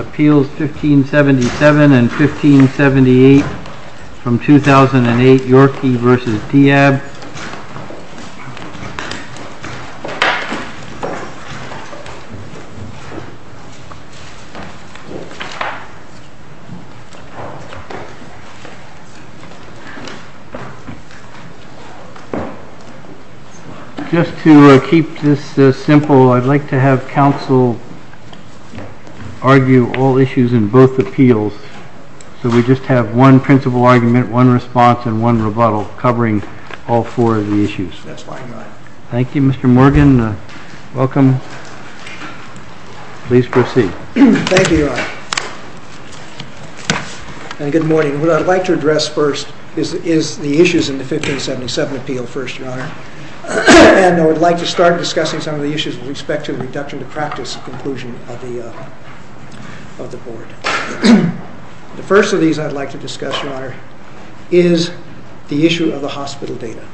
Appeals 1577 and 1578 from 2008, Yorkey v. Diab. Just to keep this simple, I'd like to have counsel argue all issues in both appeals. So we just have one principle argument, one response, and one rebuttal covering all four of the issues. Thank you, Mr. Morgan. Welcome. Please proceed. Thank you, Your Honor. Good morning. What I'd like to address first is the issues in the 1577 appeal first, Your Honor. And I would like to start discussing some of the issues with respect to the reduction to practice conclusion of the Board. The first of these I'd like to discuss, Your Honor, is the issue of the hospital data.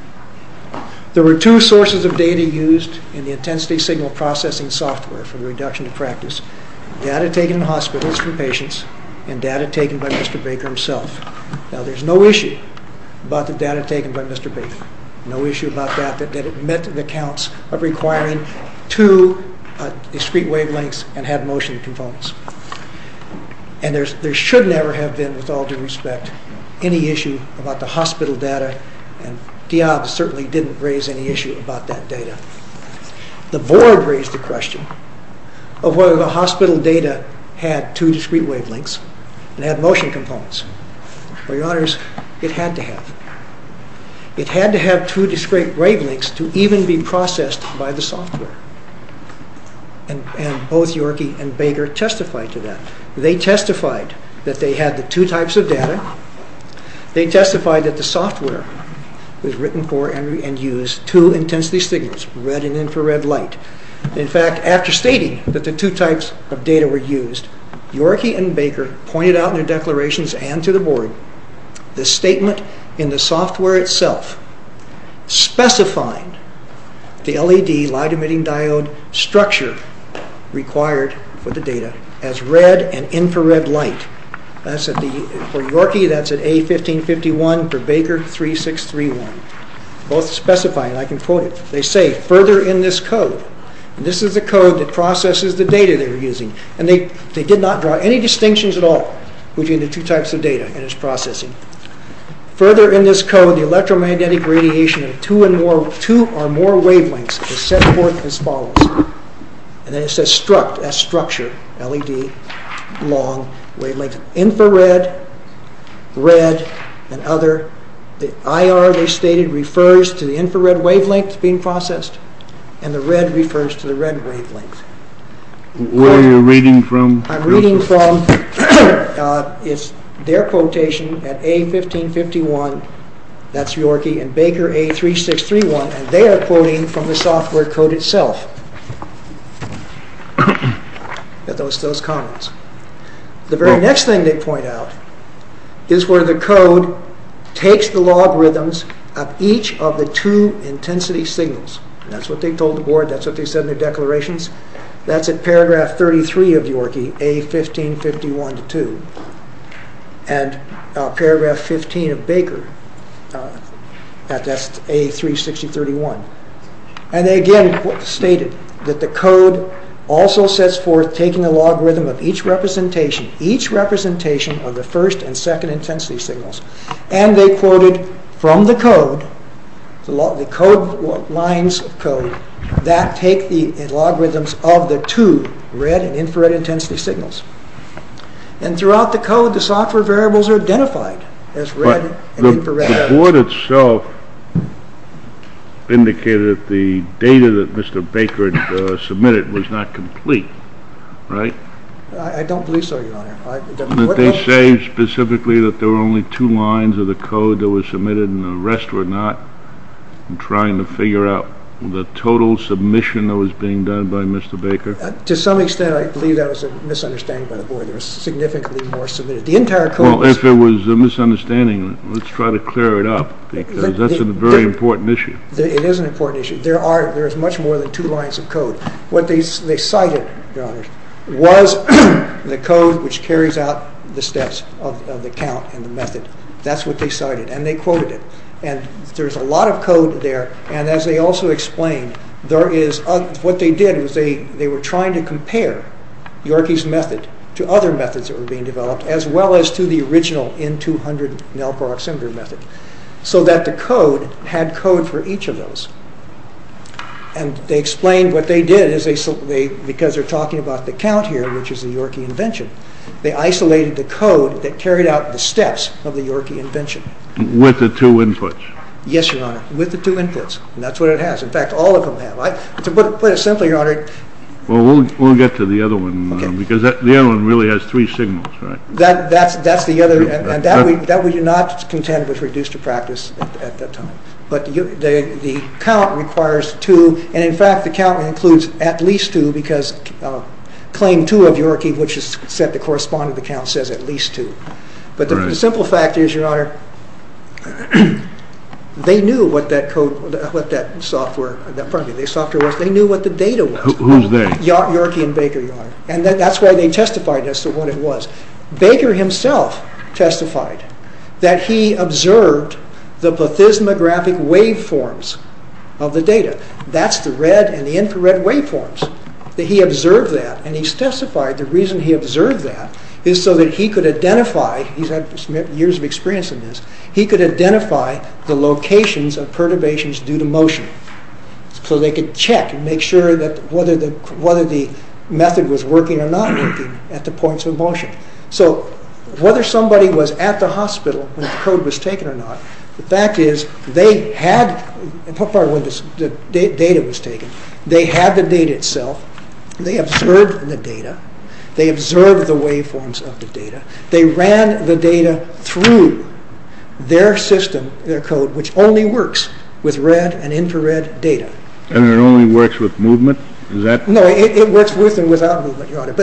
There were two sources of data used in the intensity signal processing software for the reduction to practice. Data taken in hospitals from patients and data taken by Mr. Baker himself. Now, there's no issue about the data taken by Mr. Baker. No issue about that that it met the counts of requiring two discrete wavelengths and had motion components. And there should never have been, with all due respect, any issue about the hospital data, and Diab certainly didn't raise any issue about that data. The Board raised the question of whether the hospital data had two discrete wavelengths and had motion components. Well, Your Honors, it had to have. It had to have two discrete wavelengths to even be processed by the software. And both Yorkie and Baker testified to that. They testified that they had the two types of data. They testified that the software was written for and used two intensity signals, red and infrared light. In fact, after stating that the two types of data were used, Yorkie and Baker pointed out in their declarations and to the Board, the statement in the software itself specifying the LED, light-emitting diode, structure required for the data as red and infrared light. For Yorkie, that's at A1551, for Baker, 3631. Both specify, and I can quote it. They say, further in this code, and this is the code that processes the data they were using, and they did not draw any distinctions at all between the two types of data and its processing. Further in this code, the electromagnetic radiation of two or more wavelengths is set forth as follows. And then it says struct, as structure, LED, long, wavelength, infrared, red, and other. The IR they stated refers to the infrared wavelength being processed, and the red refers to the red wavelength. Where are you reading from, Joseph? I'm reading from their quotation at A1551, that's Yorkie, and Baker, A3631. They are quoting from the software code itself, those comments. The very next thing they point out is where the code takes the logarithms of each of the two intensity signals. That's what they told the Board, that's what they said in their declarations. That's in paragraph 33 of Yorkie, A1551-2, and paragraph 15 of Baker, that's A36031. And they again stated that the code also sets forth taking the logarithm of each representation, each representation of the first and second intensity signals. And they quoted from the code, the lines of code, that take the logarithms of the two red and infrared intensity signals. And throughout the code, the software variables are identified as red and infrared. But the Board itself indicated that the data that Mr. Baker submitted was not complete, right? I don't believe so, Your Honor. Did they say specifically that there were only two lines of the code that were submitted and the rest were not? I'm trying to figure out the total submission that was being done by Mr. Baker. To some extent, I believe that was a misunderstanding by the Board. There was significantly more submitted. Well, if it was a misunderstanding, let's try to clear it up, because that's a very important issue. It is an important issue. There is much more than two lines of code. What they cited, Your Honor, was the code which carries out the steps of the count and the method. That's what they cited. And they quoted it. And there's a lot of code there. And as they also explained, what they did was they were trying to compare Yorkie's method to other methods that were being developed, as well as to the original N200 Nelker-Oxenberg method, so that the code had code for each of those. And they explained what they did. Because they're talking about the count here, which is the Yorkie invention, they isolated the code that carried out the steps of the Yorkie invention. With the two inputs. Yes, Your Honor, with the two inputs. And that's what it has. In fact, all of them have. To put it simply, Your Honor. Well, we'll get to the other one, because the other one really has three signals, right? That's the other. And that we do not contend was reduced to practice at that time. But the count requires two. And, in fact, the count includes at least two, because claim two of Yorkie, which is set to correspond to the count, says at least two. But the simple fact is, Your Honor, they knew what that software was. They knew what the data was. Who's they? Yorkie and Baker, Your Honor. And that's why they testified as to what it was. Baker himself testified that he observed the plethysmographic waveforms of the data. That's the red and the infrared waveforms. That he observed that. And he testified the reason he observed that is so that he could identify, he's had years of experience in this, he could identify the locations of perturbations due to motion. So they could check and make sure that whether the method was working or not working at the points of motion. So whether somebody was at the hospital when the code was taken or not, the fact is they had, and how far away the data was taken, they had the data itself. They observed the data. They observed the waveforms of the data. They ran the data through their system, their code, which only works with red and infrared data. And it only works with movement? No, it works with and without movement, Your Honor.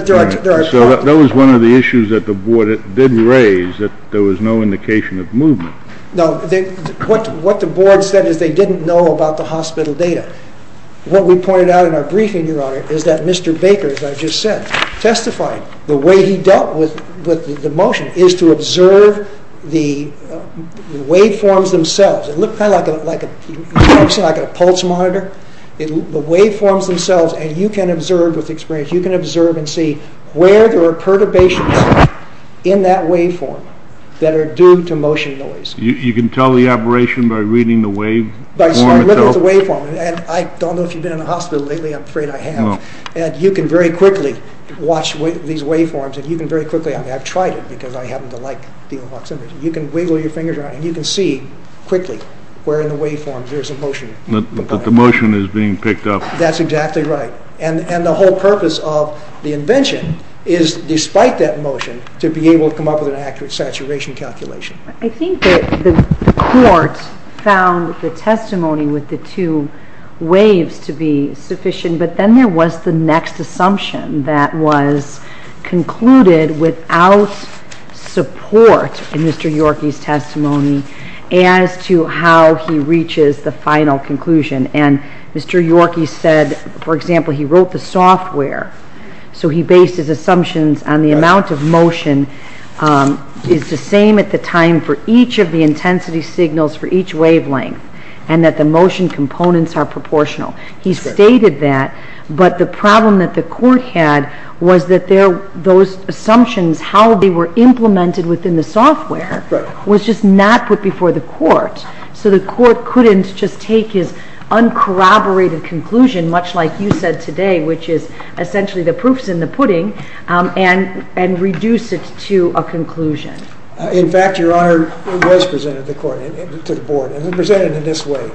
So that was one of the issues that the board did raise, that there was no indication of movement. No, what the board said is they didn't know about the hospital data. What we pointed out in our briefing, Your Honor, is that Mr. Baker, as I just said, testified the way he dealt with the motion is to observe the waveforms themselves. It looked kind of like a pulse monitor. The waveforms themselves, and you can observe with experience, you can observe and see where there are perturbations in that waveform that are due to motion noise. You can tell the aberration by reading the waveform itself? By looking at the waveform. And I don't know if you've been in a hospital lately. I'm afraid I have. And you can very quickly watch these waveforms, and you can very quickly, I mean, I've tried it because I happen to like dealing with proximity, you can wiggle your fingers around and you can see quickly where in the waveforms there's a motion. The motion is being picked up. That's exactly right. And the whole purpose of the invention is, despite that motion, to be able to come up with an accurate saturation calculation. I think that the court found the testimony with the two waves to be sufficient, but then there was the next assumption that was concluded without support in Mr. Yorkey's testimony as to how he reaches the final conclusion. And Mr. Yorkey said, for example, he wrote the software, so he based his assumptions on the amount of motion is the same at the time for each of the intensity signals for each wavelength, and that the motion components are proportional. He stated that, but the problem that the court had was that those assumptions, how they were implemented within the software, was just not put before the court. So the court couldn't just take his uncorroborated conclusion, much like you said today, which is essentially the proof's in the pudding, and reduce it to a conclusion. In fact, Your Honor, it was presented to the court, to the board, and it was presented in this way.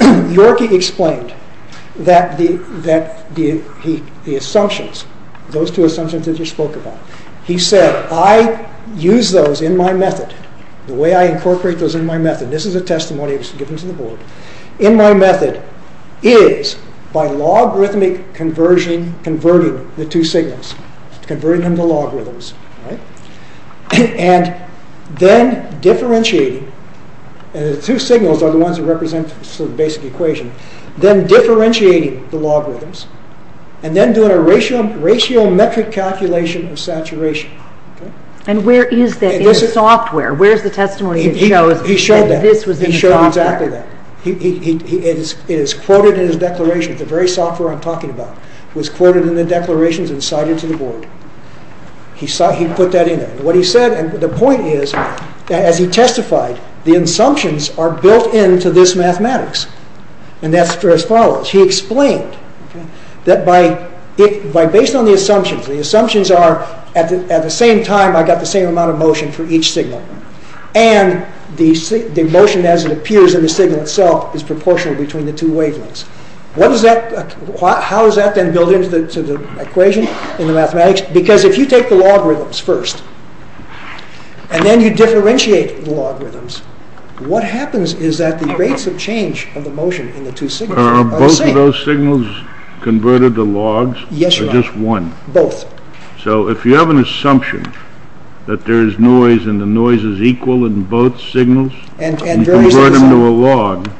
Yorkey explained that the assumptions, those two assumptions that you spoke about, he said, I use those in my method, the way I incorporate those in my method, this is a testimony that was given to the board, in my method is by logarithmic converting the two signals, converting them to logarithms, and then differentiating, and the two signals are the ones that represent the basic equation, then differentiating the logarithms, and then doing a ratio metric calculation of saturation. And where is that in the software? Where is the testimony that shows that this was in the software? He showed exactly that. It is quoted in his declaration, the very software I'm talking about, was quoted in the declarations and cited to the board. He put that in there. What he said, and the point is, as he testified, the assumptions are built into this mathematics, and that's as follows. He explained that based on the assumptions, the assumptions are, at the same time I got the same amount of motion for each signal, and the motion as it appears in the signal itself is proportional between the two wavelengths. How is that then built into the equation in the mathematics? Because if you take the logarithms first, and then you differentiate the logarithms, what happens is that the rates of change of the motion in the two signals are the same. Are both of those signals converted to logs? Yes, you are. Or just one? Both. So if you have an assumption that there is noise and the noise is equal in both signals, you convert them to a log,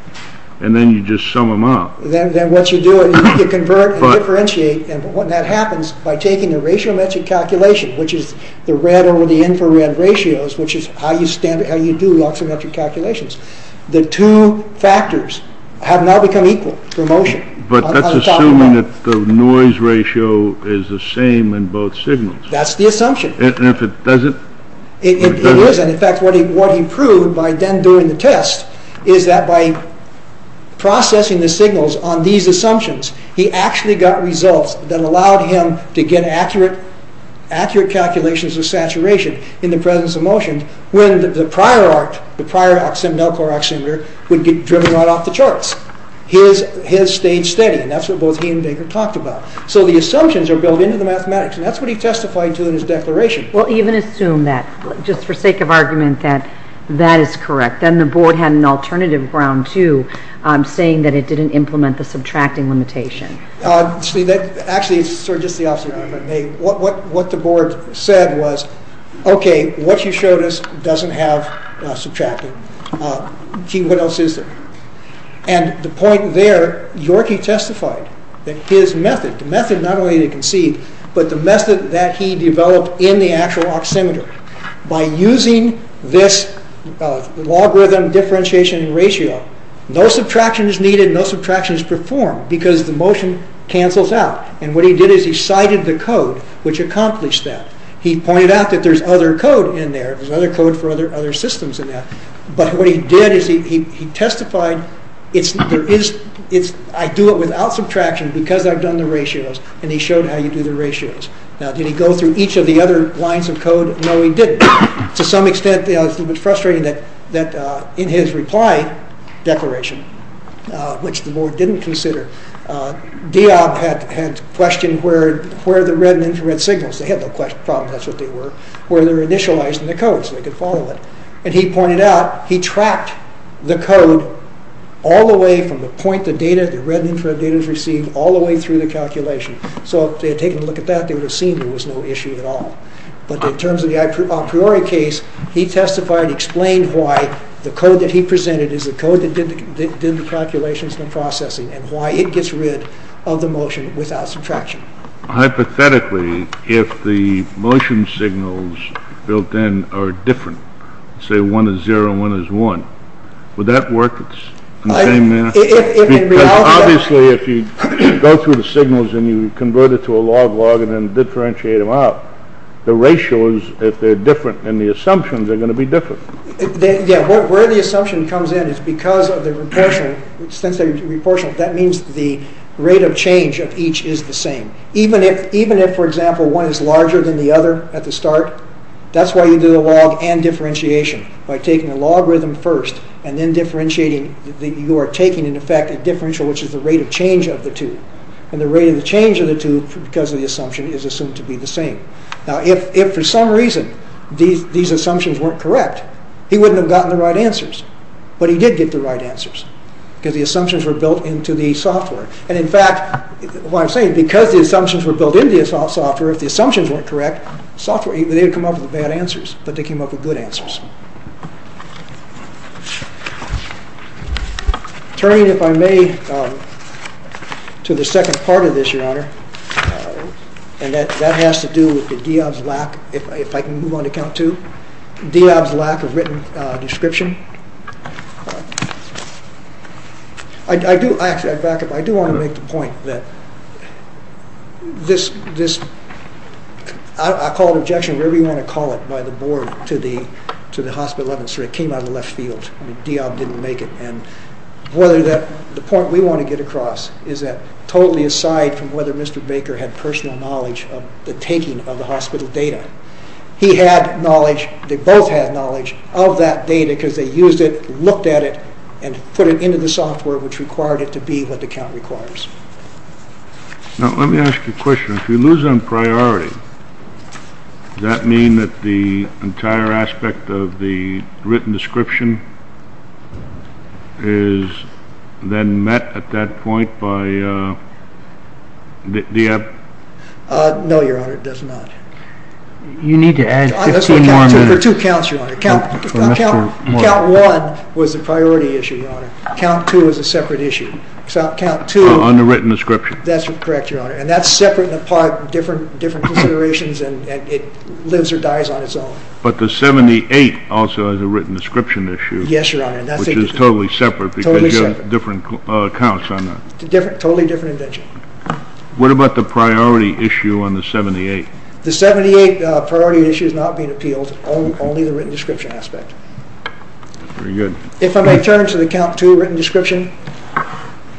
and then you just sum them up. Then what you do is you can convert and differentiate, and that happens by taking the ratio-metric calculation, which is the red over the infrared ratios, which is how you do log-symmetric calculations. The two factors have now become equal for motion. But that's assuming that the noise ratio is the same in both signals. That's the assumption. And if it doesn't? It isn't. In fact, what he proved by then doing the test, is that by processing the signals on these assumptions, he actually got results that allowed him to get accurate calculations of saturation in the presence of motion, when the prior oximeter would get driven right off the charts. His stayed steady, and that's what both he and Baker talked about. So the assumptions are built into the mathematics, and that's what he testified to in his declaration. We'll even assume that, just for sake of argument, that that is correct. Then the board had an alternative ground, too, saying that it didn't implement the subtracting limitation. Actually, it's sort of just the opposite of what I made. What the board said was, okay, what you showed us doesn't have subtracting. What else is there? And the point there, Yorkie testified that his method, the method not only to concede, but the method that he developed in the actual oximeter, by using this logarithm differentiation ratio, no subtraction is needed, no subtraction is performed, because the motion cancels out. And what he did is he cited the code, which accomplished that. He pointed out that there's other code in there. There's other code for other systems in there. But what he did is he testified, I do it without subtraction because I've done the ratios, and he showed how you do the ratios. Now, did he go through each of the other lines of code? No, he didn't. To some extent, it's a little bit frustrating that in his reply declaration, which the board didn't consider, Diab had questioned where the red and infrared signals, they had no problem, that's what they were, where they were initialized in the code, so they could follow it. And he pointed out, he tracked the code all the way from the point the data, the red and infrared data is received, all the way through the calculation. So if they had taken a look at that, they would have seen there was no issue at all. But in terms of the a priori case, he testified, he explained why the code that he presented is the code that did the calculations and the processing, and why it gets rid of the motion without subtraction. Hypothetically, if the motion signals built in are different, say one is zero and one is one, would that work in the same manner? Obviously, if you go through the signals and you convert it to a log-log and then differentiate them out, the ratios, if they're different, then the assumptions are going to be different. Yeah, where the assumption comes in is because of the proportional, since they're proportional, that means the rate of change of each is the same. Even if, for example, one is larger than the other at the start, that's why you do the log and differentiation, by taking the logarithm first, and then differentiating, you are taking, in effect, a differential, which is the rate of change of the two. And the rate of change of the two, because of the assumption, is assumed to be the same. Now, if for some reason these assumptions weren't correct, he wouldn't have gotten the right answers. But he did get the right answers, because the assumptions were built into the software. And in fact, what I'm saying, because the assumptions were built into the software, if the assumptions weren't correct, they would come up with bad answers, but they came up with good answers. Turning, if I may, to the second part of this, Your Honor, and that has to do with Diab's lack, if I can move on to count two, Diab's lack of written description. I do, actually, I back up, I do want to make the point that this, I call it objection, whatever you want to call it, by the board to the hospital evidence. It came out of the left field. Diab didn't make it. And the point we want to get across is that totally aside from whether Mr. Baker had personal knowledge of the taking of the hospital data, he had knowledge, they both had knowledge, of that data, because they used it, looked at it, and put it into the software, which required it to be what the count requires. Now, let me ask you a question. If you lose on priority, does that mean that the entire aspect of the written description is then met at that point by Diab? No, Your Honor, it does not. You need to add 15 more minutes. For two counts, Your Honor. Count one was a priority issue, Your Honor. Count two was a separate issue. On the written description. That's correct, Your Honor. And that's separate and apart, different considerations, and it lives or dies on its own. But the 78 also has a written description issue. Yes, Your Honor. Which is totally separate, because you have different counts on that. Totally different invention. What about the priority issue on the 78? The 78 priority issue is not being appealed, only the written description aspect. Very good. If I may turn to the count two written description,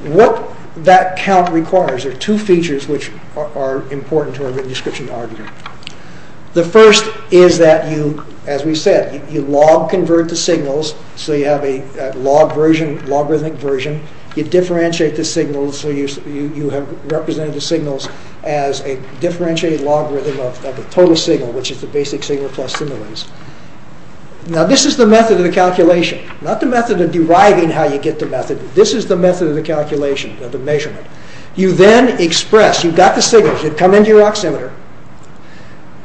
what that count requires, there are two features which are important to our written description argument. The first is that, as we said, you log-convert the signals, so you have a logarithmic version. You differentiate the signals, so you have represented the signals as a differentiated logarithm of the total signal, which is the basic signal plus the noise. Now this is the method of the calculation, not the method of deriving how you get the method. This is the method of the calculation, of the measurement. You then express, you've got the signals, they come into your oximeter,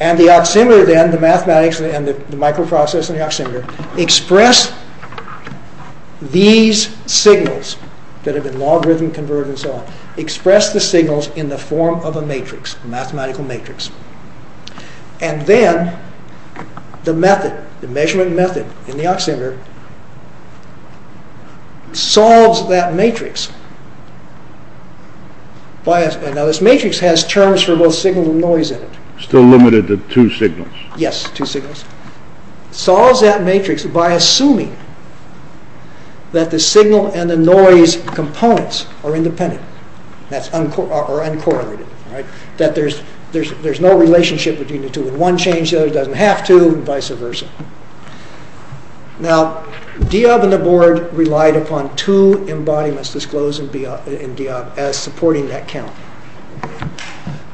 and the oximeter then, the mathematics and the microprocess in the oximeter, express these signals, that have been logarithm converted and so on, express the signals in the form of a matrix, a mathematical matrix. And then, the method, the measurement method in the oximeter, solves that matrix. Now this matrix has terms for both signal and noise in it. Still limited to two signals. Yes, two signals. Solves that matrix by assuming that the signal and the noise components are independent, or uncorrelated. That there's no relationship between the two. One changes, the other doesn't have to, and vice versa. Now, Diob and the board relied upon two embodiments disclosed in Diob as supporting that count.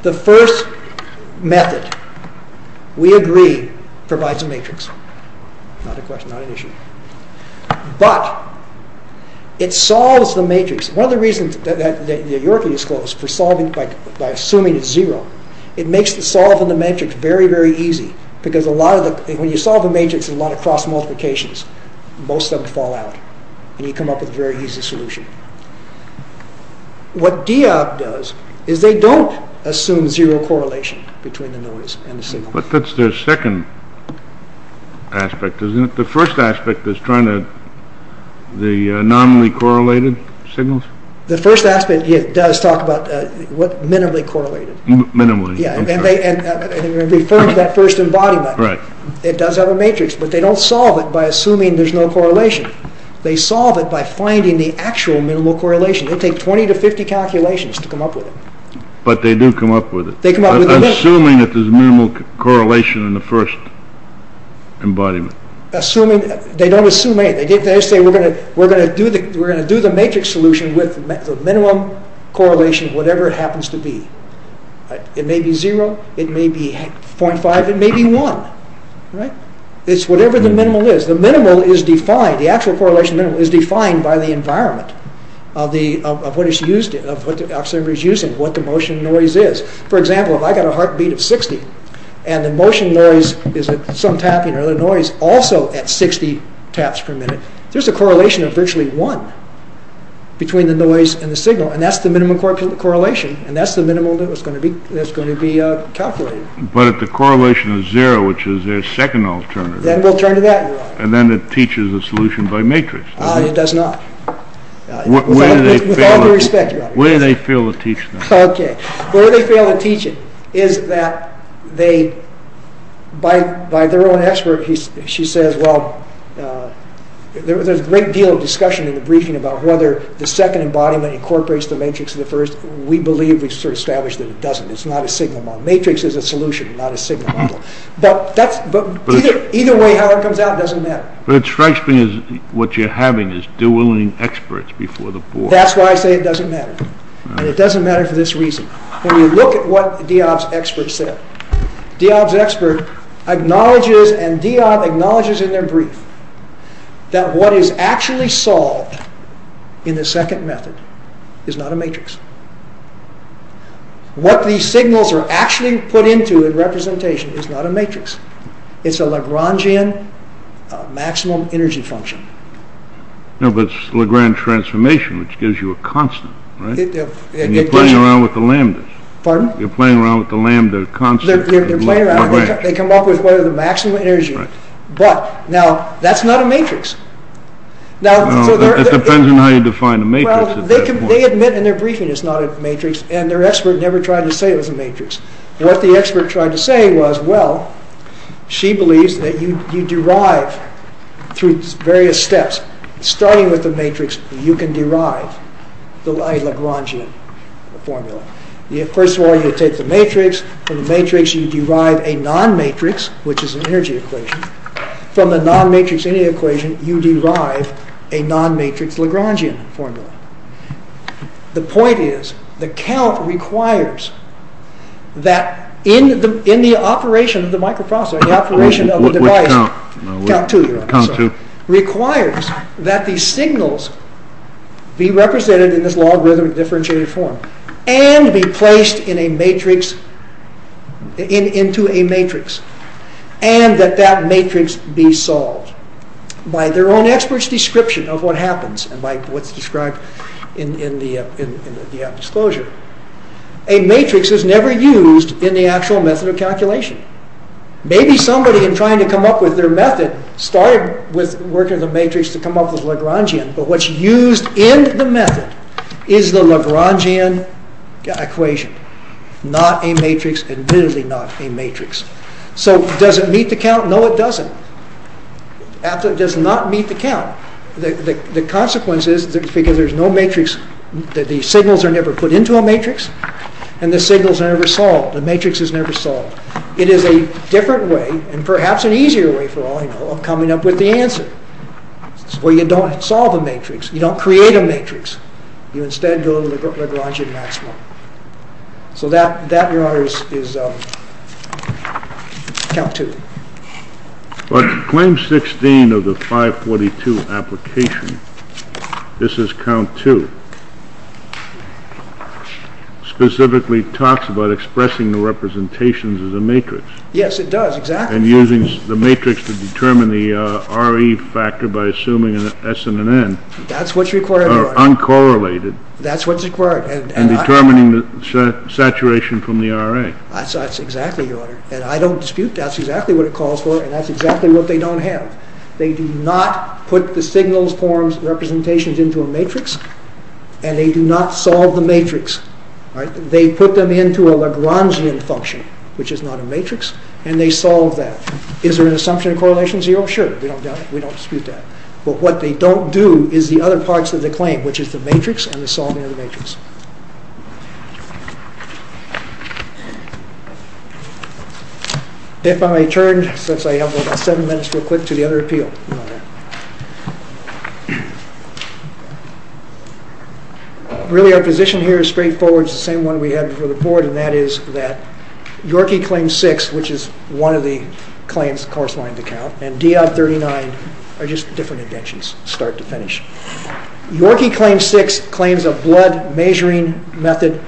The first method, we agree, provides a matrix. Not a question, not an issue. But, it solves the matrix. One of the reasons that Yorkley disclosed, by assuming it's zero, it makes solving the matrix very, very easy. Because when you solve the matrix in a lot of cross-multiplications, most of them fall out. And you come up with a very easy solution. What Diob does, is they don't assume zero correlation between the noise and the signal. But that's their second aspect, isn't it? The first aspect is trying to... the non-re-correlated signals? The first aspect, it does talk about minimally correlated. Minimally. And it refers to that first embodiment. Right. It does have a matrix, but they don't solve it by assuming there's no correlation. They solve it by finding the actual minimal correlation. They take 20 to 50 calculations to come up with it. But they do come up with it. They come up with it. Assuming that there's minimal correlation in the first embodiment. Assuming... They don't assume anything. They just say, we're going to do the matrix solution with the minimum correlation, whatever it happens to be. It may be zero, it may be 0.5, it may be 1. Right? It's whatever the minimal is. The minimal is defined, the actual correlation minimal is defined by the environment of what it's used in, of what the observer is using, what the motion noise is. For example, if I've got a heartbeat of 60, and the motion noise is at some tapping, or the noise also at 60 taps per minute, there's a correlation of virtually 1 between the noise and the signal. And that's the minimum correlation. And that's the minimal that's going to be calculated. But if the correlation is 0, which is their second alternative... Then we'll turn to that. And then it teaches a solution by matrix. Ah, it does not. With all due respect, Your Honor. Where do they fail to teach that? Okay. Where do they fail to teach it is that they, by their own expert, she says, well, there's a great deal of discussion in the briefing about whether the second embodiment incorporates the matrix of the first. We believe, we've sort of established that it doesn't. It's not a signal model. Matrix is a solution, not a signal model. But that's... Either way, however it comes out, it doesn't matter. But it strikes me as what you're having is dueling experts before the board. That's why I say it doesn't matter. And it doesn't matter for this reason. When you look at what Diab's expert said, Diab's expert acknowledges, and Diab acknowledges in their brief, that what is actually solved in the second method is not a matrix. What these signals are actually put into a representation is not a matrix. It's a Lagrangian maximum energy function. No, but it's Lagrange transformation, which gives you a constant, right? You're playing around with the lambdas. Pardon? You're playing around with the lambda constant. They're playing around. They come up with what is the maximum energy. Right. But, now, that's not a matrix. No, it depends on how you define a matrix at that point. Well, they admit in their briefing it's not a matrix, and their expert never tried to say it was a matrix. What the expert tried to say was, well, she believes that you derive through various steps. Starting with the matrix, you can derive a Lagrangian formula. First of all, you take the matrix. From the matrix, you derive a non-matrix, which is an energy equation. From the non-matrix energy equation, you derive a non-matrix Lagrangian formula. The point is, the count requires that in the operation of the microprocessor, in the operation of the device, count two, requires that the signals be represented in this logarithmic differentiated form, and be placed in a matrix, into a matrix, and that that matrix be solved. By their own expert's description of what happens, and by what's described in the disclosure, a matrix is never used in the actual method of calculation. Maybe somebody, in trying to come up with their method, started with working with a matrix to come up with a Lagrangian, but what's used in the method is the Lagrangian equation, not a matrix, admittedly not a matrix. So, does it meet the count? No, it doesn't. It does not meet the count. The consequence is, because there's no matrix, the signals are never put into a matrix, and the signals are never solved. The matrix is never solved. It is a different way, and perhaps an easier way, for all I know, of coming up with the answer. Where you don't solve a matrix, you don't create a matrix, you instead go to the Lagrangian maximum. So that, Your Honor, is count two. But, claim 16 of the 542 application, this is count two. Specifically talks about expressing the representations as a matrix. Yes, it does, exactly. And using the matrix to determine the RE factor by assuming an S and an N. That's what's required, Your Honor. Uncorrelated. That's what's required. And determining the saturation from the RA. That's exactly, Your Honor. And I don't dispute that's exactly what it calls for, and that's exactly what they don't have. They do not put the signals, forms, representations into a matrix, and they do not solve the matrix. They put them into a Lagrangian function, which is not a matrix, and they solve that. Is there an assumption of correlation zero? Sure, we don't dispute that. But what they don't do is the other parts of the claim, which is the matrix and the solving of the matrix. If I may turn, since I have about seven minutes real quick, to the other appeal, Your Honor. Really, our position here is straightforward. It's the same one we had before the board, and that is that Yorkie Claim 6, which is one of the claims course-lined to count, and D.O.B. 39 are just different inventions, start to finish. Yorkie Claim 6 claims a blood-measuring method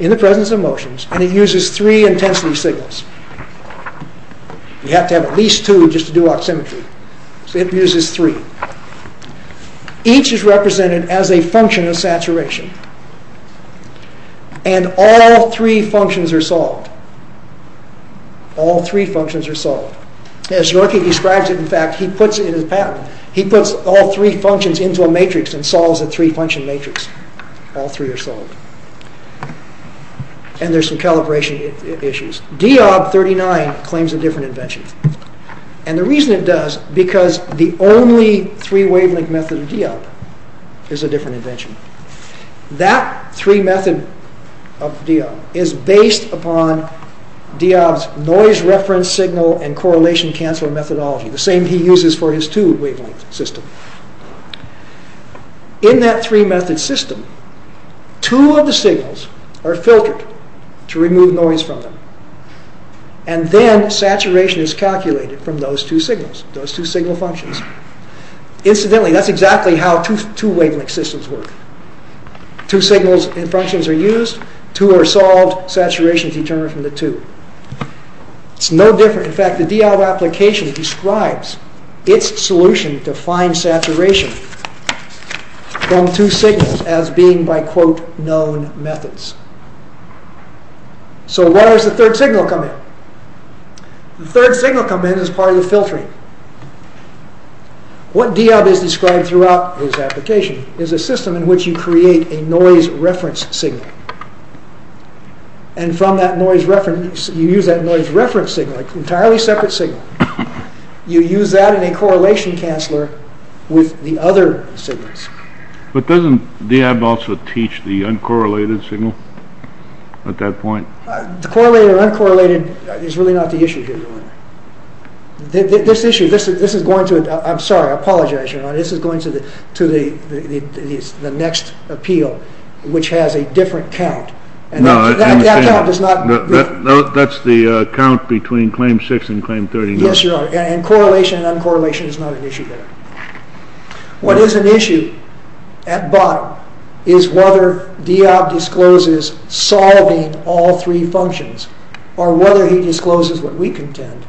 in the presence of motions, and it uses three intensity signals. You have to have at least two just to do oximetry. It uses three. Each is represented as a function of saturation, and all three functions are solved. All three functions are solved. As Yorkie describes it, in fact, he puts it in his patent. He puts all three functions into a matrix and solves a three-function matrix. All three are solved. And there's some calibration issues. D.O.B. 39 claims a different invention. And the reason it does is because the only three-wavelength method of D.O.B. is a different invention. That three-method of D.O.B. is based upon D.O.B.'s noise-reference signal and correlation-canceler methodology, the same he uses for his two-wavelength system. In that three-method system, two of the signals are filtered to remove noise from them, and then saturation is calculated from those two signals, those two signal functions. Incidentally, that's exactly how two-wavelength systems work. Two signals and functions are used. Two are solved. Saturation is determined from the two. It's no different. In fact, the D.O.B. application describes its solution to fine saturation from two signals as being by quote known methods. So why does the third signal come in? The third signal comes in as part of the filtering. What D.O.B. has described throughout his application is a system in which you create a noise-reference signal. And from that noise-reference, you use that noise-reference signal, an entirely separate signal. You use that in a correlation-canceler with the other signals. But doesn't D.O.B. also teach the uncorrelated signal at that point? The correlated or uncorrelated is really not the issue here, Your Honor. This issue, this is going to, I'm sorry, I apologize, Your Honor. This is going to the next appeal, which has a different count. No, I understand. That count is not different. That's the count between Claim 6 and Claim 39. Yes, Your Honor. And correlation and uncorrelation is not an issue there. What is an issue at bottom is whether D.O.B. discloses solving all three functions or whether he discloses what we contend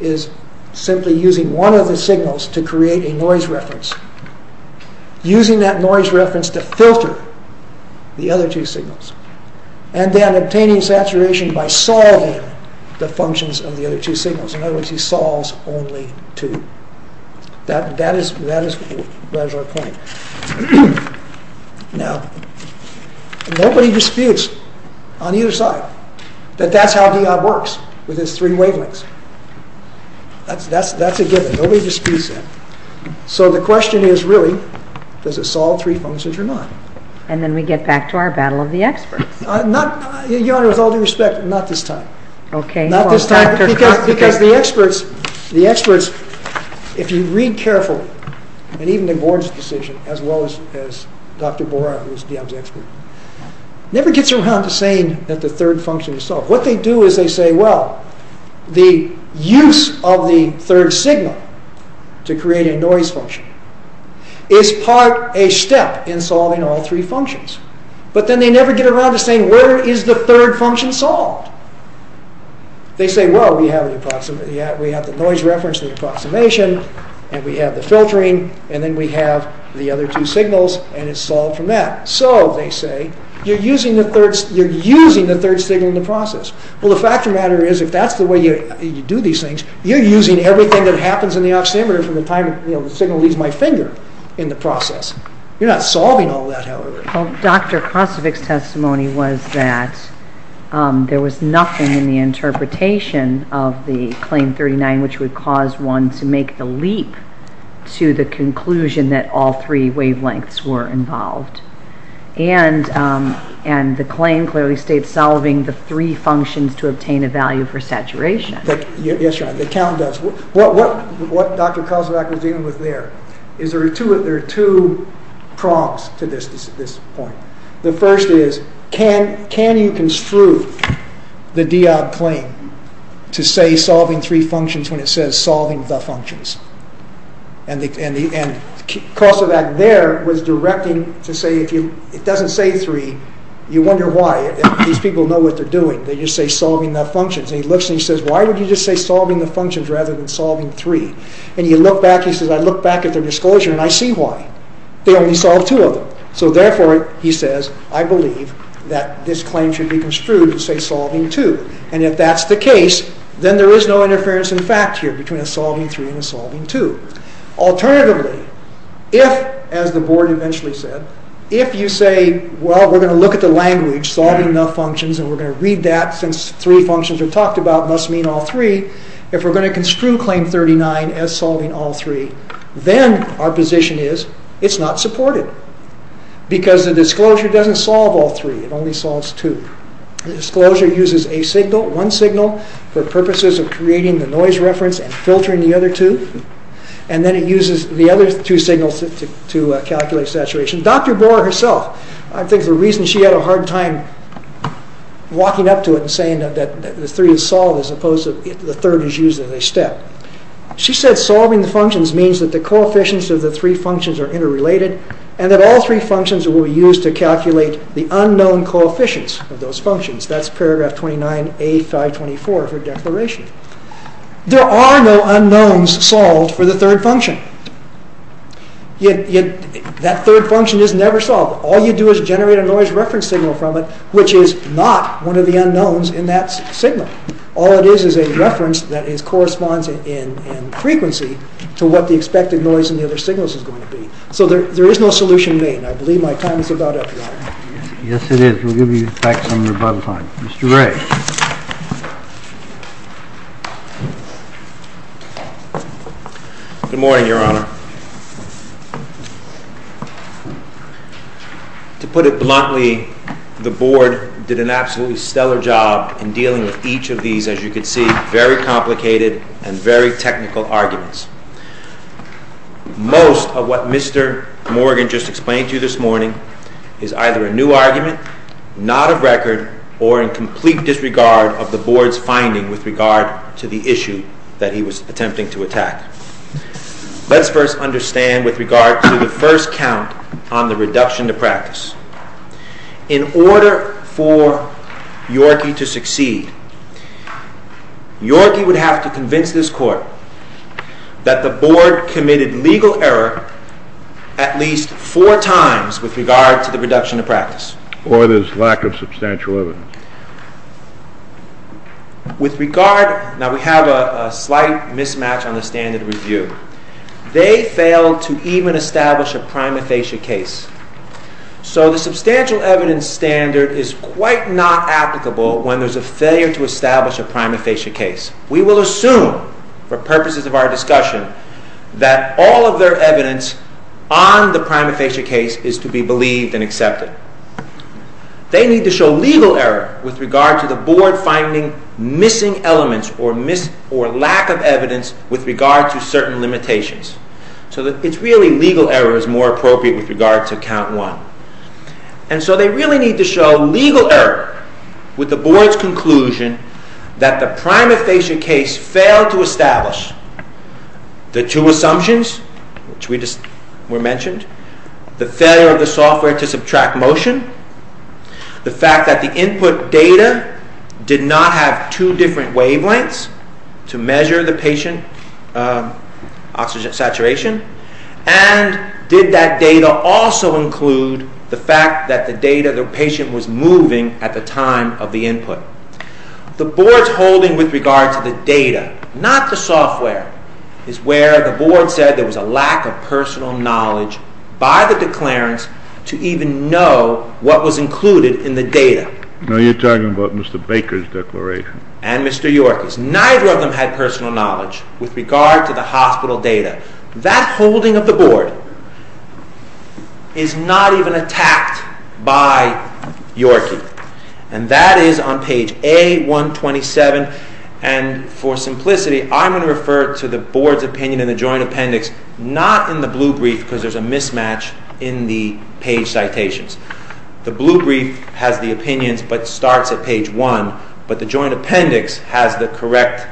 is simply using one of the signals to create a noise-reference. Using that noise-reference to filter the other two signals. And then obtaining saturation by solving the functions of the other two signals. In other words, he solves only two. That is our point. Now, nobody disputes on either side that that's how D.O.B. works with his three wavelengths. That's a given. Nobody disputes that. So the question is really does it solve three functions or not? And then we get back to our battle of the experts. Your Honor, with all due respect, not this time. Okay. Because the experts, if you read carefully, and even the board's decision, as well as Dr. Borat, who is D.O.B.'s expert, never gets around to saying that the third function is solved. What they do is they say, well, the use of the third signal to create a noise function is part a step in solving all three functions. But then they never get around to saying where is the third function solved? They say, well, we have the noise-reference, the approximation, and we have the filtering, and then we have the other two signals, and it's solved from that. So they say you're using the third signal in the process. Well, the fact of the matter is if that's the way you do these things, you're using everything that happens in the oximeter from the time the signal leaves my finger in the process. You're not solving all that, however. Well, Dr. Kosovic's testimony was that there was nothing in the interpretation of the Claim 39 which would cause one to make the leap to the conclusion that all three wavelengths were involved. And the Claim clearly states solving the three functions to obtain a value for saturation. Yes, the Count does. What Dr. Kosovic was dealing with there is there are two prongs to this point. The first is can you construe the D-OB claim to say solving three functions when it says solving the functions. And Kosovic there was directing to say if it doesn't say three, you wonder why. These people know what they're doing. They just say solving the functions. And he looks and he says why would you just say solving the functions rather than solving three? And you look back and he says I look back at their disclosure and I see why. They only solved two of them. So therefore, he says, I believe that this claim should be construed to say solving two. And if that's the case, then there is no interference in fact here between a solving three and a solving two. Alternatively, if, as the Board eventually said, if you say, well, we're going to look at the language solving the functions and we're going to read that since three functions are talked about must mean all three. If we're going to construe Claim 39 as solving all three, then our position is it's not supported. Because the disclosure doesn't solve all three. It only solves two. The disclosure uses a signal, one signal, for purposes of creating the noise reference and filtering the other two. And then it uses the other two signals to calculate saturation. Dr. Bohr herself, I think the reason she had a hard time walking up to it and saying that the three is solved as opposed to the third is used as a step. She said solving the functions means that the coefficients of the three functions are interrelated and that all three functions will be used to calculate the unknown coefficients of those functions. That's paragraph 29A524 of her declaration. There are no unknowns solved for the third function. Yet that third function is never solved. All you do is generate a noise reference signal from it which is not one of the unknowns in that signal. All it is is a reference that corresponds in frequency to what the expected noise in the other signals is going to be. So there is no solution made. And I believe my time is about up now. Yes, it is. We'll give you back some of your bubble time. Mr. Ray. Good morning, Your Honor. To put it bluntly, the Board did an absolutely stellar job in dealing with each of these, as you can see, very complicated and very technical arguments. Most of what Mr. Morgan just explained to you this morning is either a new argument, not of record, or in complete disregard of the Board's finding with regard to the issue that he was attempting to attack. Let's first understand with regard to the first count on the reduction to practice. In order for Yorkie to succeed, Yorkie would have to convince this Court that the Board committed legal error at least four times with regard to the reduction to practice. Or there's lack of substantial evidence. With regard... Now, we have a slight mismatch on the standard of review. They failed to even establish a prima facie case. So the substantial evidence standard is quite not applicable when there's a failure to establish a prima facie case. We will assume, for purposes of our discussion, that all of their evidence on the prima facie case is to be believed and accepted. They need to show legal error with regard to the Board finding missing elements or lack of evidence with regard to certain limitations. So it's really legal error is more appropriate with regard to count one. And so they really need to show legal error with the Board's conclusion that the prima facie case failed to establish the two assumptions which we just mentioned. The failure of the software to subtract motion. The fact that the input data did not have two different wavelengths to measure the patient oxygen saturation. And did that data also include the fact that the data the patient was moving at the time of the input. The Board's holding with regard to the data, not the software, is where the Board said there was a lack of personal knowledge by the declarants to even know what was included in the data. Now you're talking about Mr. Baker's declaration. And Mr. Yorkey's. Neither of them had personal knowledge with regard to the hospital data. That holding of the Board is not even attacked by Yorkey. And that is on page A-127. And for simplicity, I'm going to refer to the Board's opinion in the joint appendix, not in the blue brief because there's a mismatch in the page citations. The blue brief has the opinions but starts at page 1. But the joint appendix has the correct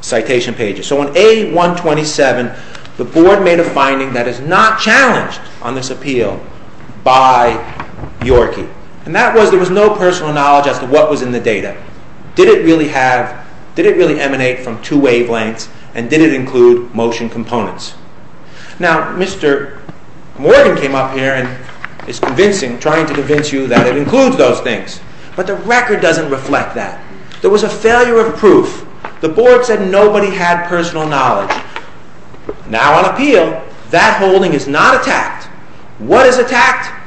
citation pages. So on A-127, the Board made a finding that is not challenged on this appeal by Yorkey. And that was there was no personal knowledge as to what was in the data. Did it really have did it really emanate from two wavelengths and did it include motion components? Now, Mr. Morgan came up here and is convincing trying to convince you that it includes those things. But the record doesn't reflect that. There was a failure of proof. The Board said nobody had personal knowledge. Now on appeal, that holding is not attacked. What is attacked?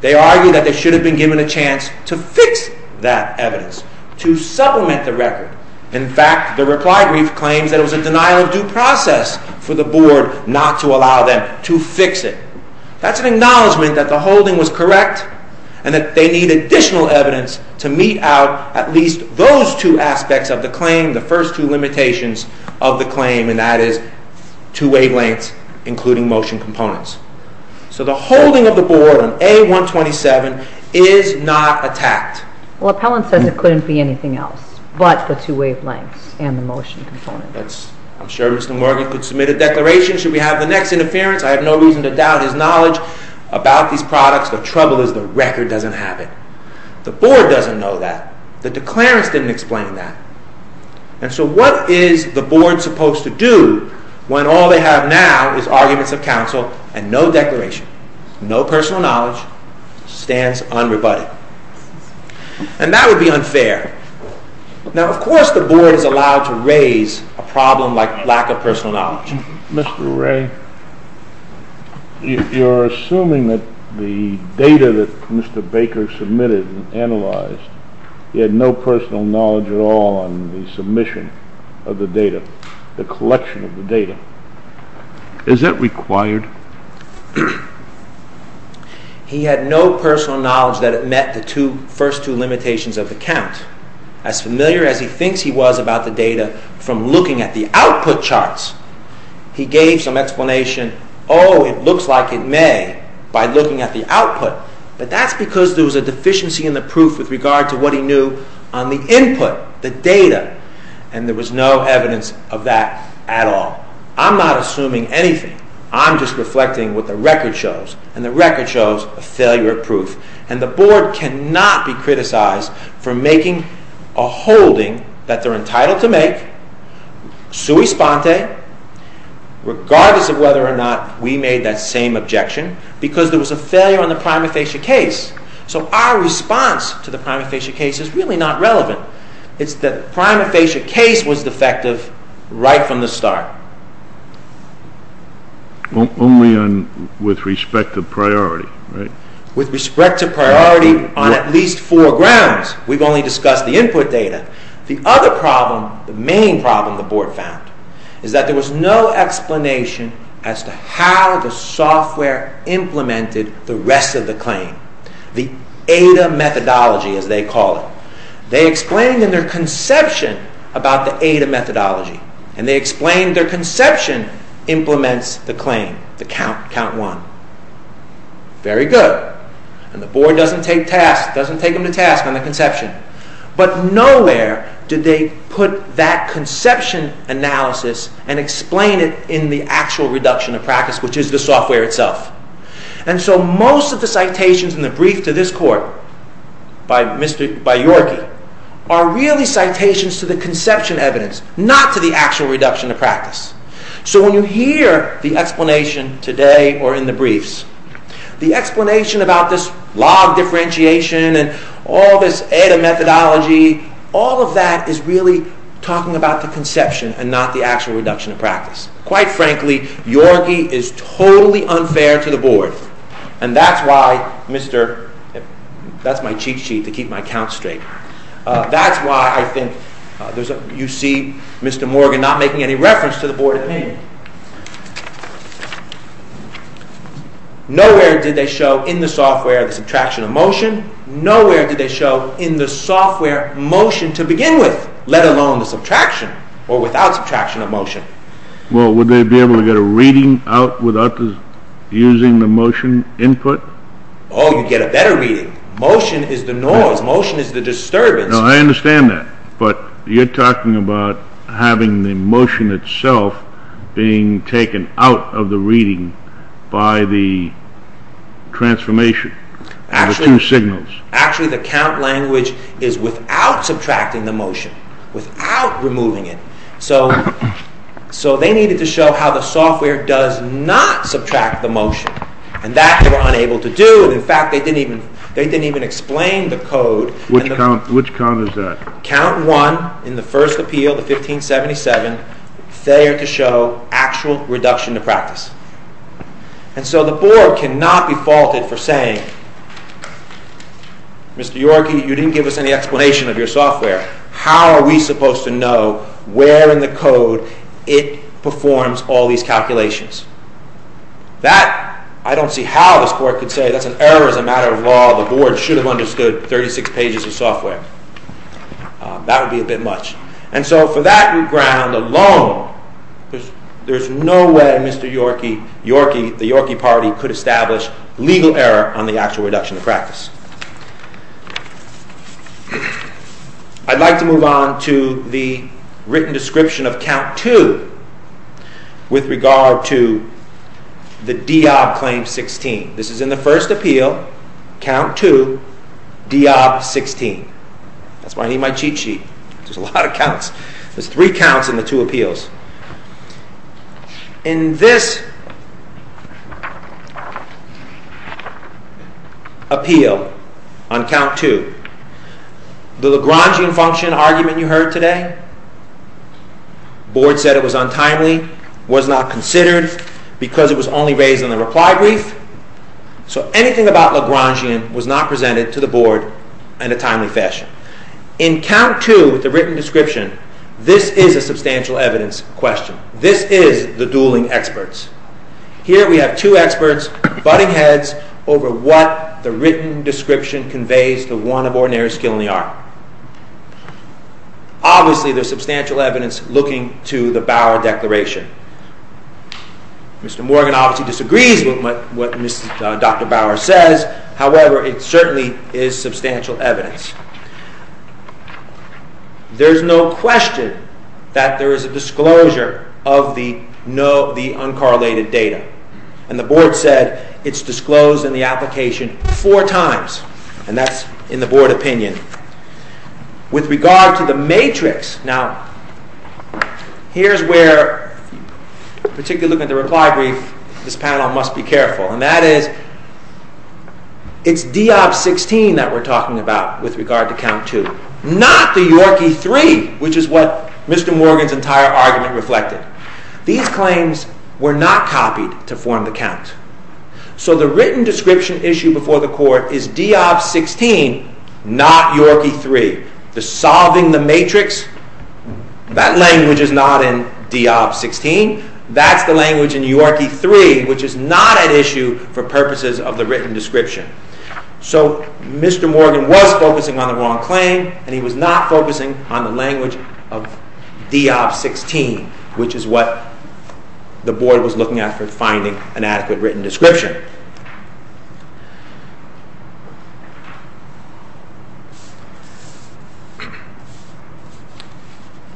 They argue that they should have been given a chance to fix that evidence. To supplement the record. In fact, the reply brief claims that it was a denial of due process for the Board not to allow them to fix it. That's an acknowledgement that the holding was correct and that they need additional evidence to meet out at least those two aspects of the claim. The first two limitations of the claim and that is two wavelengths including motion components. So the holding of the Board on A-127 is not attacked. Well, Appellant says it couldn't be anything else but the two wavelengths and the motion components. I'm sure Mr. Morgan could submit a declaration should we have the next interference. I have no reason to doubt his knowledge about these products. The trouble is the record doesn't have it. The Board doesn't know that. The declarants didn't explain that. And so what is the Board supposed to do when all they have now is arguments of counsel and no declaration. No personal knowledge stands unrebutted. And that would be unfair. Now, of course, the Board is allowed to raise a problem like lack of personal knowledge. Mr. Ray, you're assuming that the data that Mr. Baker submitted and analyzed, he had no personal knowledge at all on the submission of the data, the collection of the data. Is that required? He had no personal knowledge that it met the first two limitations of the count. As familiar as he thinks he was about the data from looking at the output charts, he gave some explanation, oh, it looks like it may by looking at the output. But that's because there was a deficiency in the proof with regard to what he knew on the input, the data. And there was no evidence of that at all. I'm not assuming anything. I'm just reflecting what the record shows. And the record shows a failure of proof. And the Board cannot be criticized for making a holding that they're entitled to make, sui sponte, regardless of whether or not we made that same objection, because there was a failure on the prima facie case. So our response to the prima facie case is really not relevant. It's that the prima facie case was defective right from the start. Only with respect to priority, right? With respect to priority on at least four grounds. We've only discussed the input data. The other problem, the main problem the Board found, is that there was no explanation as to how the software implemented the rest of the claim. The ADA methodology, as they call it. They explained in their conception about the ADA methodology. And they explained their conception implements the claim, the count one. Very good. And the Board doesn't take task, doesn't take them to task on the conception. But nowhere did they put that conception analysis and explain it in the actual reduction of practice, which is the software itself. And so most of the citations in the brief to this court by Yorkie are really citations to the conception evidence, not to the actual reduction of practice. So when you hear the explanation today or in the briefs, the explanation about this log differentiation and all this ADA methodology, all of that is really talking about the conception and not the actual reduction of practice. Quite frankly, Yorkie is totally unfair to the Board. And that's why Mr. That's my cheat sheet to keep my count straight. That's why I think you see Mr. Morgan not making any reference to the Board opinion. Nowhere did they show in the software the subtraction of motion. Nowhere did they show in the software motion to begin with, let alone the subtraction or without subtraction of motion. Well, would they be able to get a reading out without using the motion input? Oh, you'd get a better reading. Motion is the noise. Motion is the disturbance. No, I understand that. But you're talking about having the motion itself being taken out of the reading by the transformation of the two signals. Actually, the count language is without subtracting the motion, without removing it. So they needed to show how the software does not subtract the motion. And that they were unable to do. In fact, they didn't even explain the code. Which count is that? Count 1 in the first appeal, the 1577, failure to show actual reduction of practice. And so the board cannot be faulted for saying, Mr. Yorkey, you didn't give us any explanation of your software. How are we supposed to know where in the code it performs all these calculations? That, I don't see how this court could say that's an error as a matter of law. The board should have understood 36 pages of software. That would be a bit much. And so for that ground alone, there's no way Mr. Yorkey, the Yorkey party, could establish legal error on the actual reduction of practice. I'd like to move on to the written description of count 2 with regard to the Diab Claim 16. This is in the first appeal, count 2, Diab 16. That's why I need my cheat sheet. There's a lot of counts. There's three counts in the two appeals. In this appeal on count 2, the Lagrangian function argument you heard today, the board said it was untimely, was not considered, because it was only raised in the reply brief. So anything about Lagrangian was not presented to the board in a timely fashion. In count 2, with the written description, this is a substantial evidence question. This is the dueling experts. Here we have two experts butting heads over what the written description conveys to one of ordinary skill in the art. Obviously there's substantial evidence looking to the Bauer Declaration. Mr. Morgan obviously disagrees with what Dr. Bauer says. However, it certainly is substantial evidence. There's no question that there is a disclosure of the uncorrelated data. And the board said it's disclosed in the application four times. And that's in the board opinion. With regard to the matrix, now, here's where, particularly looking at the reply brief, this panel must be careful. And that is, it's DIOP 16 that we're talking about with regard to count 2. Not the Yorkie 3, which is what Mr. Morgan's entire argument reflected. These claims were not copied to form the count. So the written description issued before the court is DIOP 16, not Yorkie 3. The solving the matrix, that language is not in DIOP 16. That's the language in Yorkie 3, which is not at issue for purposes of the written description. So, Mr. Morgan was focusing on the wrong claim and he was not focusing on the language of DIOP 16, which is what the board was looking at for finding an adequate written description.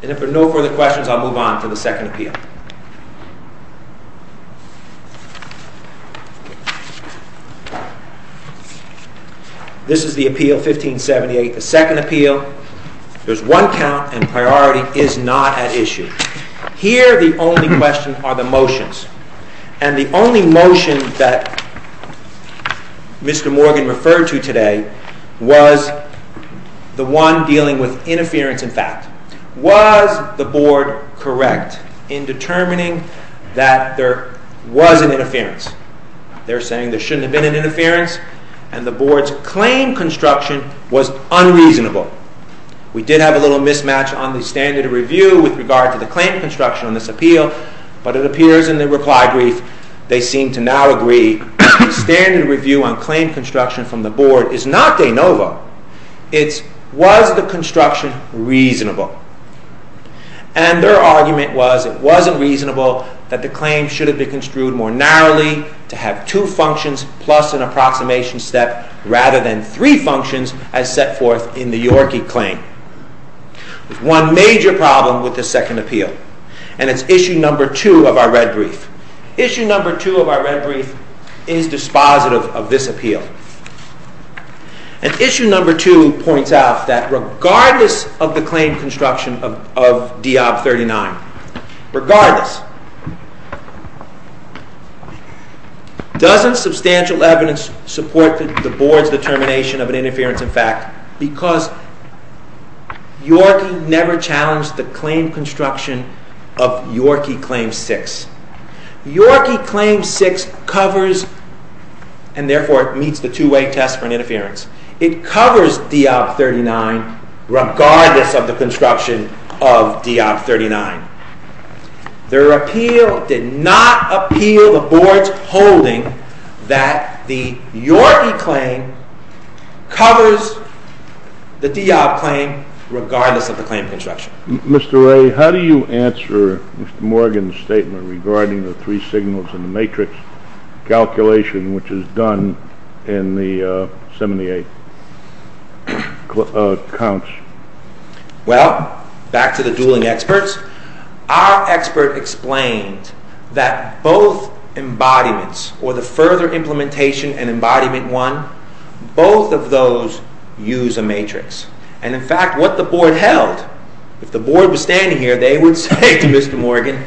And if there are no further questions, I'll move on to the second appeal. This is the appeal, 1578, the second appeal. There's one count and priority is not at issue. Here, the only questions are the motions. And the only motion that Mr. Morgan referred to today the one dealing with interference in fact. Was the board correct in determining whether or not there was interference in determining that there was an interference? They're saying there shouldn't have been an interference and the board's claim construction was unreasonable. We did have a little mismatch on the standard review with regard to the claim construction on this appeal, but it appears in the reply brief they seem to now agree the standard review on claim construction from the board is not de novo. It's, was the construction reasonable? And their argument was it wasn't reasonable that the claim should have been construed more narrowly to have two functions plus an approximation step rather than three functions as set forth in the Yorkie claim. There's one major problem with the second appeal and it's issue number two of our red brief. Issue number two of our red brief is dispositive of this appeal. And issue number two points out that regardless of the claim construction of D.O.B. 39 regardless doesn't substantial evidence support the board's determination of an interference in fact because Yorkie never challenged the claim construction of Yorkie claim six. Yorkie claim six covers and therefore meets the two way test for an interference. It covers D.O.B. 39 regardless of the construction of D.O.B. 39. Their appeal did not appeal the board's holding that the Yorkie claim covers the D.O.B. claim regardless of the claim construction. Mr. Ray, how do you answer Mr. Morgan's statement regarding the three signals in the matrix calculation which is done in the 78 counts? Well, back to the dueling experts, our expert explained that both embodiments or the further implementation and embodiment one, both of those use a matrix. And in fact, what the board held, if the board was standing here, they would say to Mr. Morgan,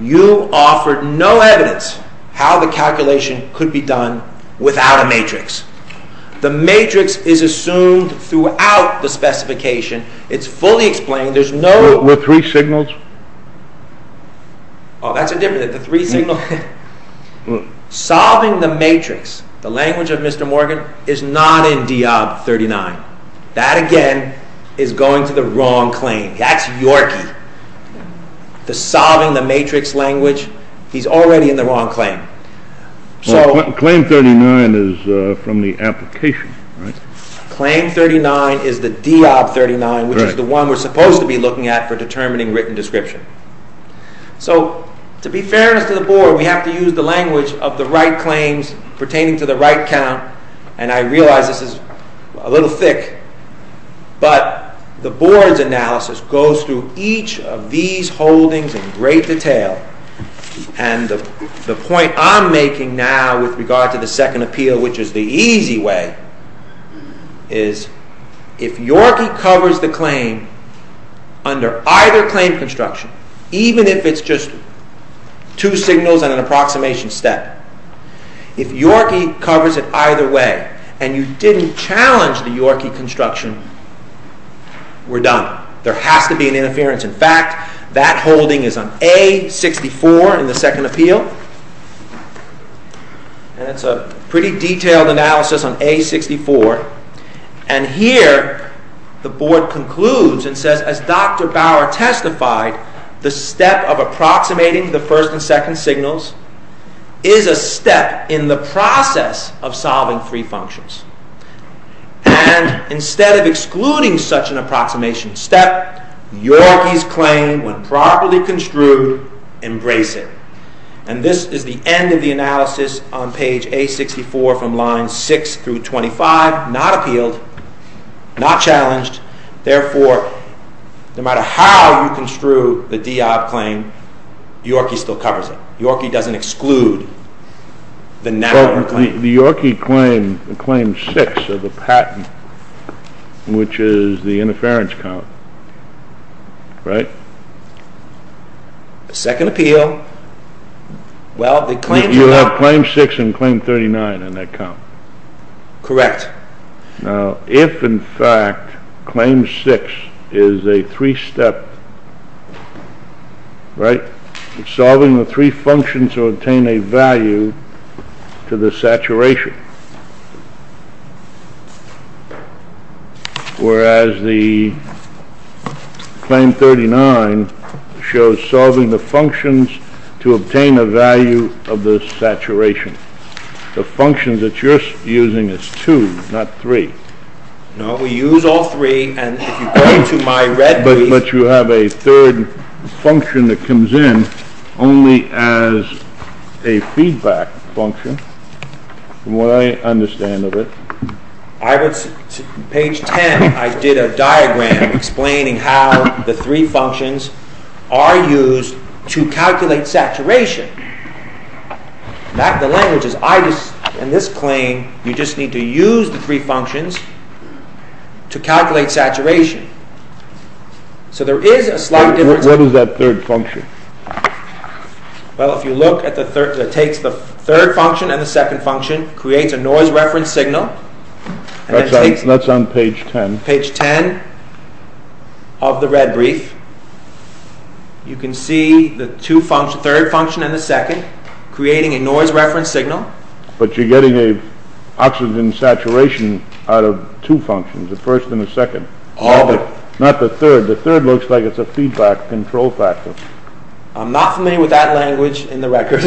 you offered no evidence how the calculation could be done without a matrix. The matrix is assumed throughout the specification. It's fully explained. There's no... Were three signals? Oh, that's a different... The three signals... Solving the matrix, the language of Mr. Morgan, is not in D.O.B. 39. That, again, is going to the wrong claim. That's Yorkie. The solving the matrix language, he's already in the wrong claim. So... Claim 39 is from the application, right? Claim 39 is the D.O.B. 39, which is the one we're supposed to be looking at for determining written description. So, to be fairness to the board, we have to use the language of the right claims pertaining to the right count. And I realize this is a little thick, but the board's analysis goes through each of these holdings in great detail. And the point I'm making now with regard to the second appeal, which is the easy way, is if Yorkie covers the claim, under either claim construction, even if it's just two signals and an approximation step, if Yorkie covers it either way, and you didn't challenge the Yorkie construction, we're done. There has to be an interference. In fact, that holding is on A-64 in the second appeal. And it's a pretty detailed analysis on A-64. And here, the board concludes and says, as Dr. Bauer testified, the step of approximating the first and second signals is a step in the process of solving three functions. And, instead of excluding such an approximation step, Yorkie's claim, when properly construed, embrace it. And this is the end of the analysis on page A-64 from lines 6 through 25. Not appealed. Not challenged. Therefore, no matter how you construe the D-OB claim, Yorkie still covers it. Yorkie doesn't exclude the narrower claim. The Yorkie claim, claim 6 of the patent, which is the interference count, right? The second appeal, well, the claim... You have claim 6 and claim 39 in that count. Correct. Now, if, in fact, claim 6 is a three-step, right? Solving the three functions to obtain a value to the saturation. Whereas the claim 39 shows solving the functions to obtain a value of the saturation. The function that you're using is 2, not 3. No, we use all three, and if you go to my red... But you have a third function that comes in only as a feedback function, from what I understand of it. I would... Page 10, I did a diagram explaining how the three functions are used to calculate saturation. That, the language is, I just... In this claim, you just need to use the three functions to calculate saturation. So there is a slight difference... What is that third function? Well, if you look at the third... It takes the third function and the second function, creates a noise reference signal, and then takes... That's on page 10. Page 10 of the red brief. You can see the two functions, third function and the second, creating a noise reference signal. But you're getting a... oxygen saturation out of two functions, the first and the second. Not the third. The third looks like it's a feedback control factor. I'm not familiar with that language in the record.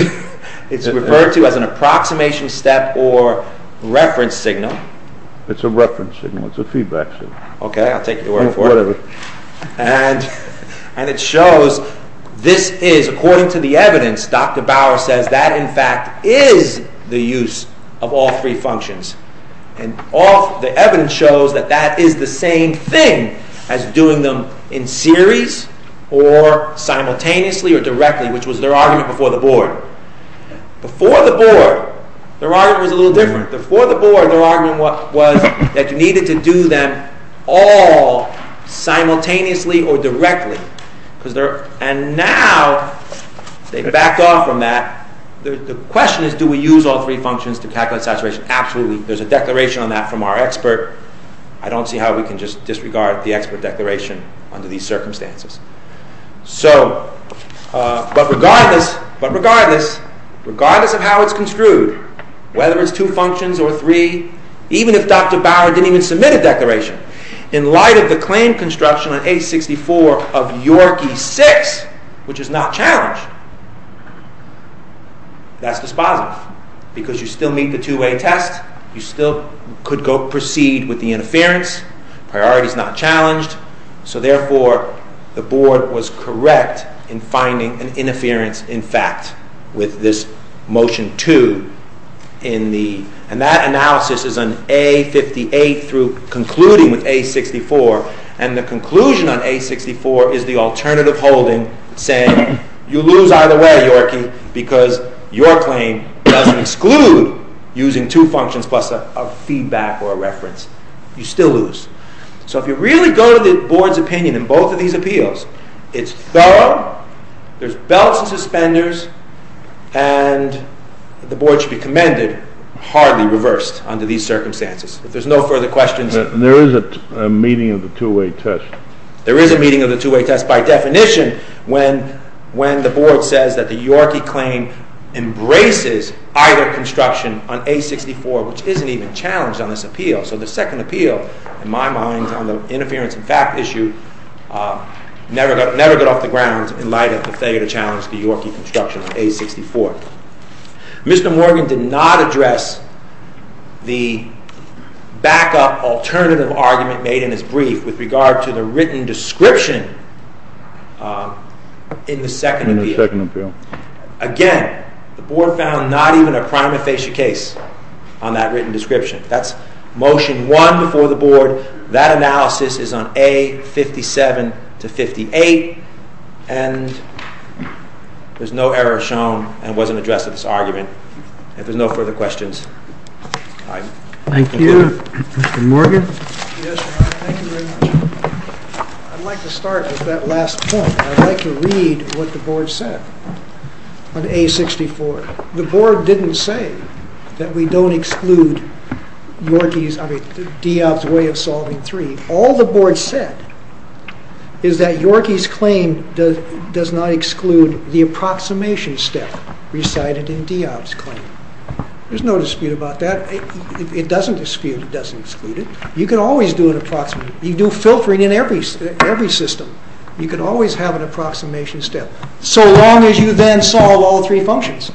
It's referred to as an approximation step or reference signal. It's a reference signal. It's a feedback signal. Okay, I'll take your word for it. Whatever. And... And it shows this is, according to the evidence, Dr. Bauer says, that in fact is the use of all three functions. And all... The evidence shows that that is the same thing as doing them in series or simultaneously or directly, which was their argument before the board. Before the board, their argument was a little different. Before the board, their argument was that you needed to do them all simultaneously or directly. Because they're... And now, they've backed off from that. The question is, do we use all three functions to calculate saturation? Absolutely. There's a declaration on that from our expert. I don't see how we can just disregard the expert declaration under these circumstances. So... But regardless... But regardless... Regardless of how it's construed, whether it's two functions or three, even if Dr. Bauer didn't even submit a declaration, in light of the claim construction on A64 of Yorkie 6, which is not challenged, that's dispositive. Because you still meet the two-way test. You still could proceed with the interference. Priority's not challenged. So therefore, the board was correct in finding an interference, in fact, with this Motion 2 in the... And that analysis is on A58 through concluding with A64. And the conclusion on A64 is the alternative holding saying, you lose either way, Yorkie, because your claim doesn't exclude using two functions plus a feedback or a reference. You still lose. So if you really go to the board's opinion in both of these appeals, it's thorough, there's belts and suspenders, and the board should be commended, hardly reversed under these circumstances. If there's no further questions... There is a meeting of the two-way test. There is a meeting of the two-way test. By definition, when the board says that the Yorkie claim embraces either construction on A64, which isn't even challenged on this appeal. So the second appeal, in my mind, on the interference in fact issue, never got off the ground in light of the failure to challenge the Yorkie construction on A64. Mr. Morgan did not address the backup alternative argument made in his brief with regard to the written description in the second appeal. Again, the board found not even a prima facie case on that written description. That's Motion 1 before the board. That analysis is on A57-58 and there's no error shown and wasn't addressed in this argument. If there's no further questions, I conclude. Thank you. Mr. Morgan? Yes, Your Honor. Thank you very much. I'd like to start with that last point. I'd like to read what the board said on A64. The board didn't say that we don't exclude Diob's way of solving 3. All the board said is that Yorkie's claim does not exclude the approximation step recited in Diob's claim. There's no dispute about that. It doesn't dispute. It doesn't exclude it. You can always do an approximation. You can do filtering in every system. You can always have an approximation step so long as you then solve all three functions.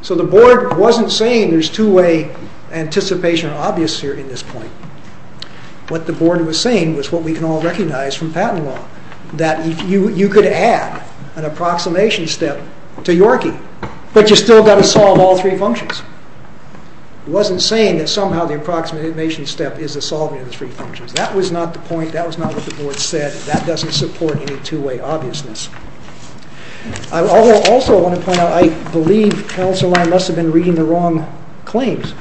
So the board wasn't saying there's two-way anticipation or obvious here in this point. What the board was saying was what we can all recognize from patent law that you could add an approximation step to Yorkie but you still got to solve all three functions. It wasn't saying that somehow the approximation step is the solving of the three functions. That was not the point. That was not what the board said. That doesn't support any two-way obviousness. I also want to point out I believe counsel and I must have been reading the wrong claims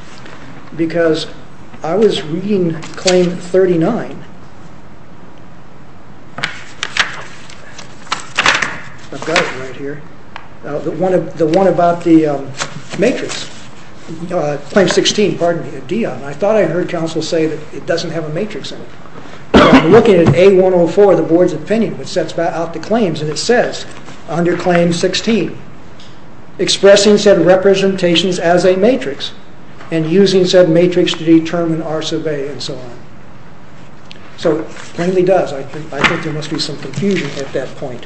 because I was reading claim 39. I've got it right here. The one about the matrix. Claim 16. Pardon me. I thought I heard counsel say that it doesn't have a matrix in it. I'm looking at A104 the board's opinion which sets out the claims and it says under claim 16 expressing said representations as a matrix and using said matrix to determine R sub A and so on. So it plainly does. I think there must be some confusion at that point.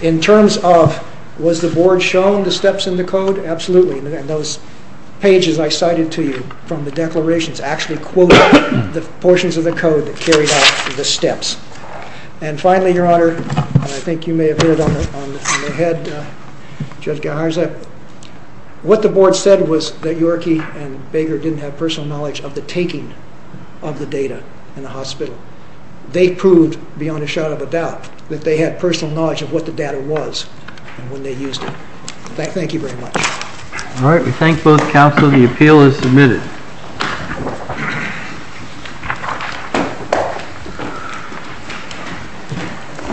In terms of was the board shown the steps in the code? Absolutely. Those pages I cited to you from the declarations actually quote the portions of the code that carried out the steps. And finally, your honor I think you may have heard on the head Judge Gajarza what the board said was that Yorkie and Baker didn't have personal knowledge of the taking of the data in the hospital. They proved beyond a shadow of a doubt that they had personal knowledge of what the data was when they used it. Thank you very much. All right. We thank both counsel. The appeal is submitted.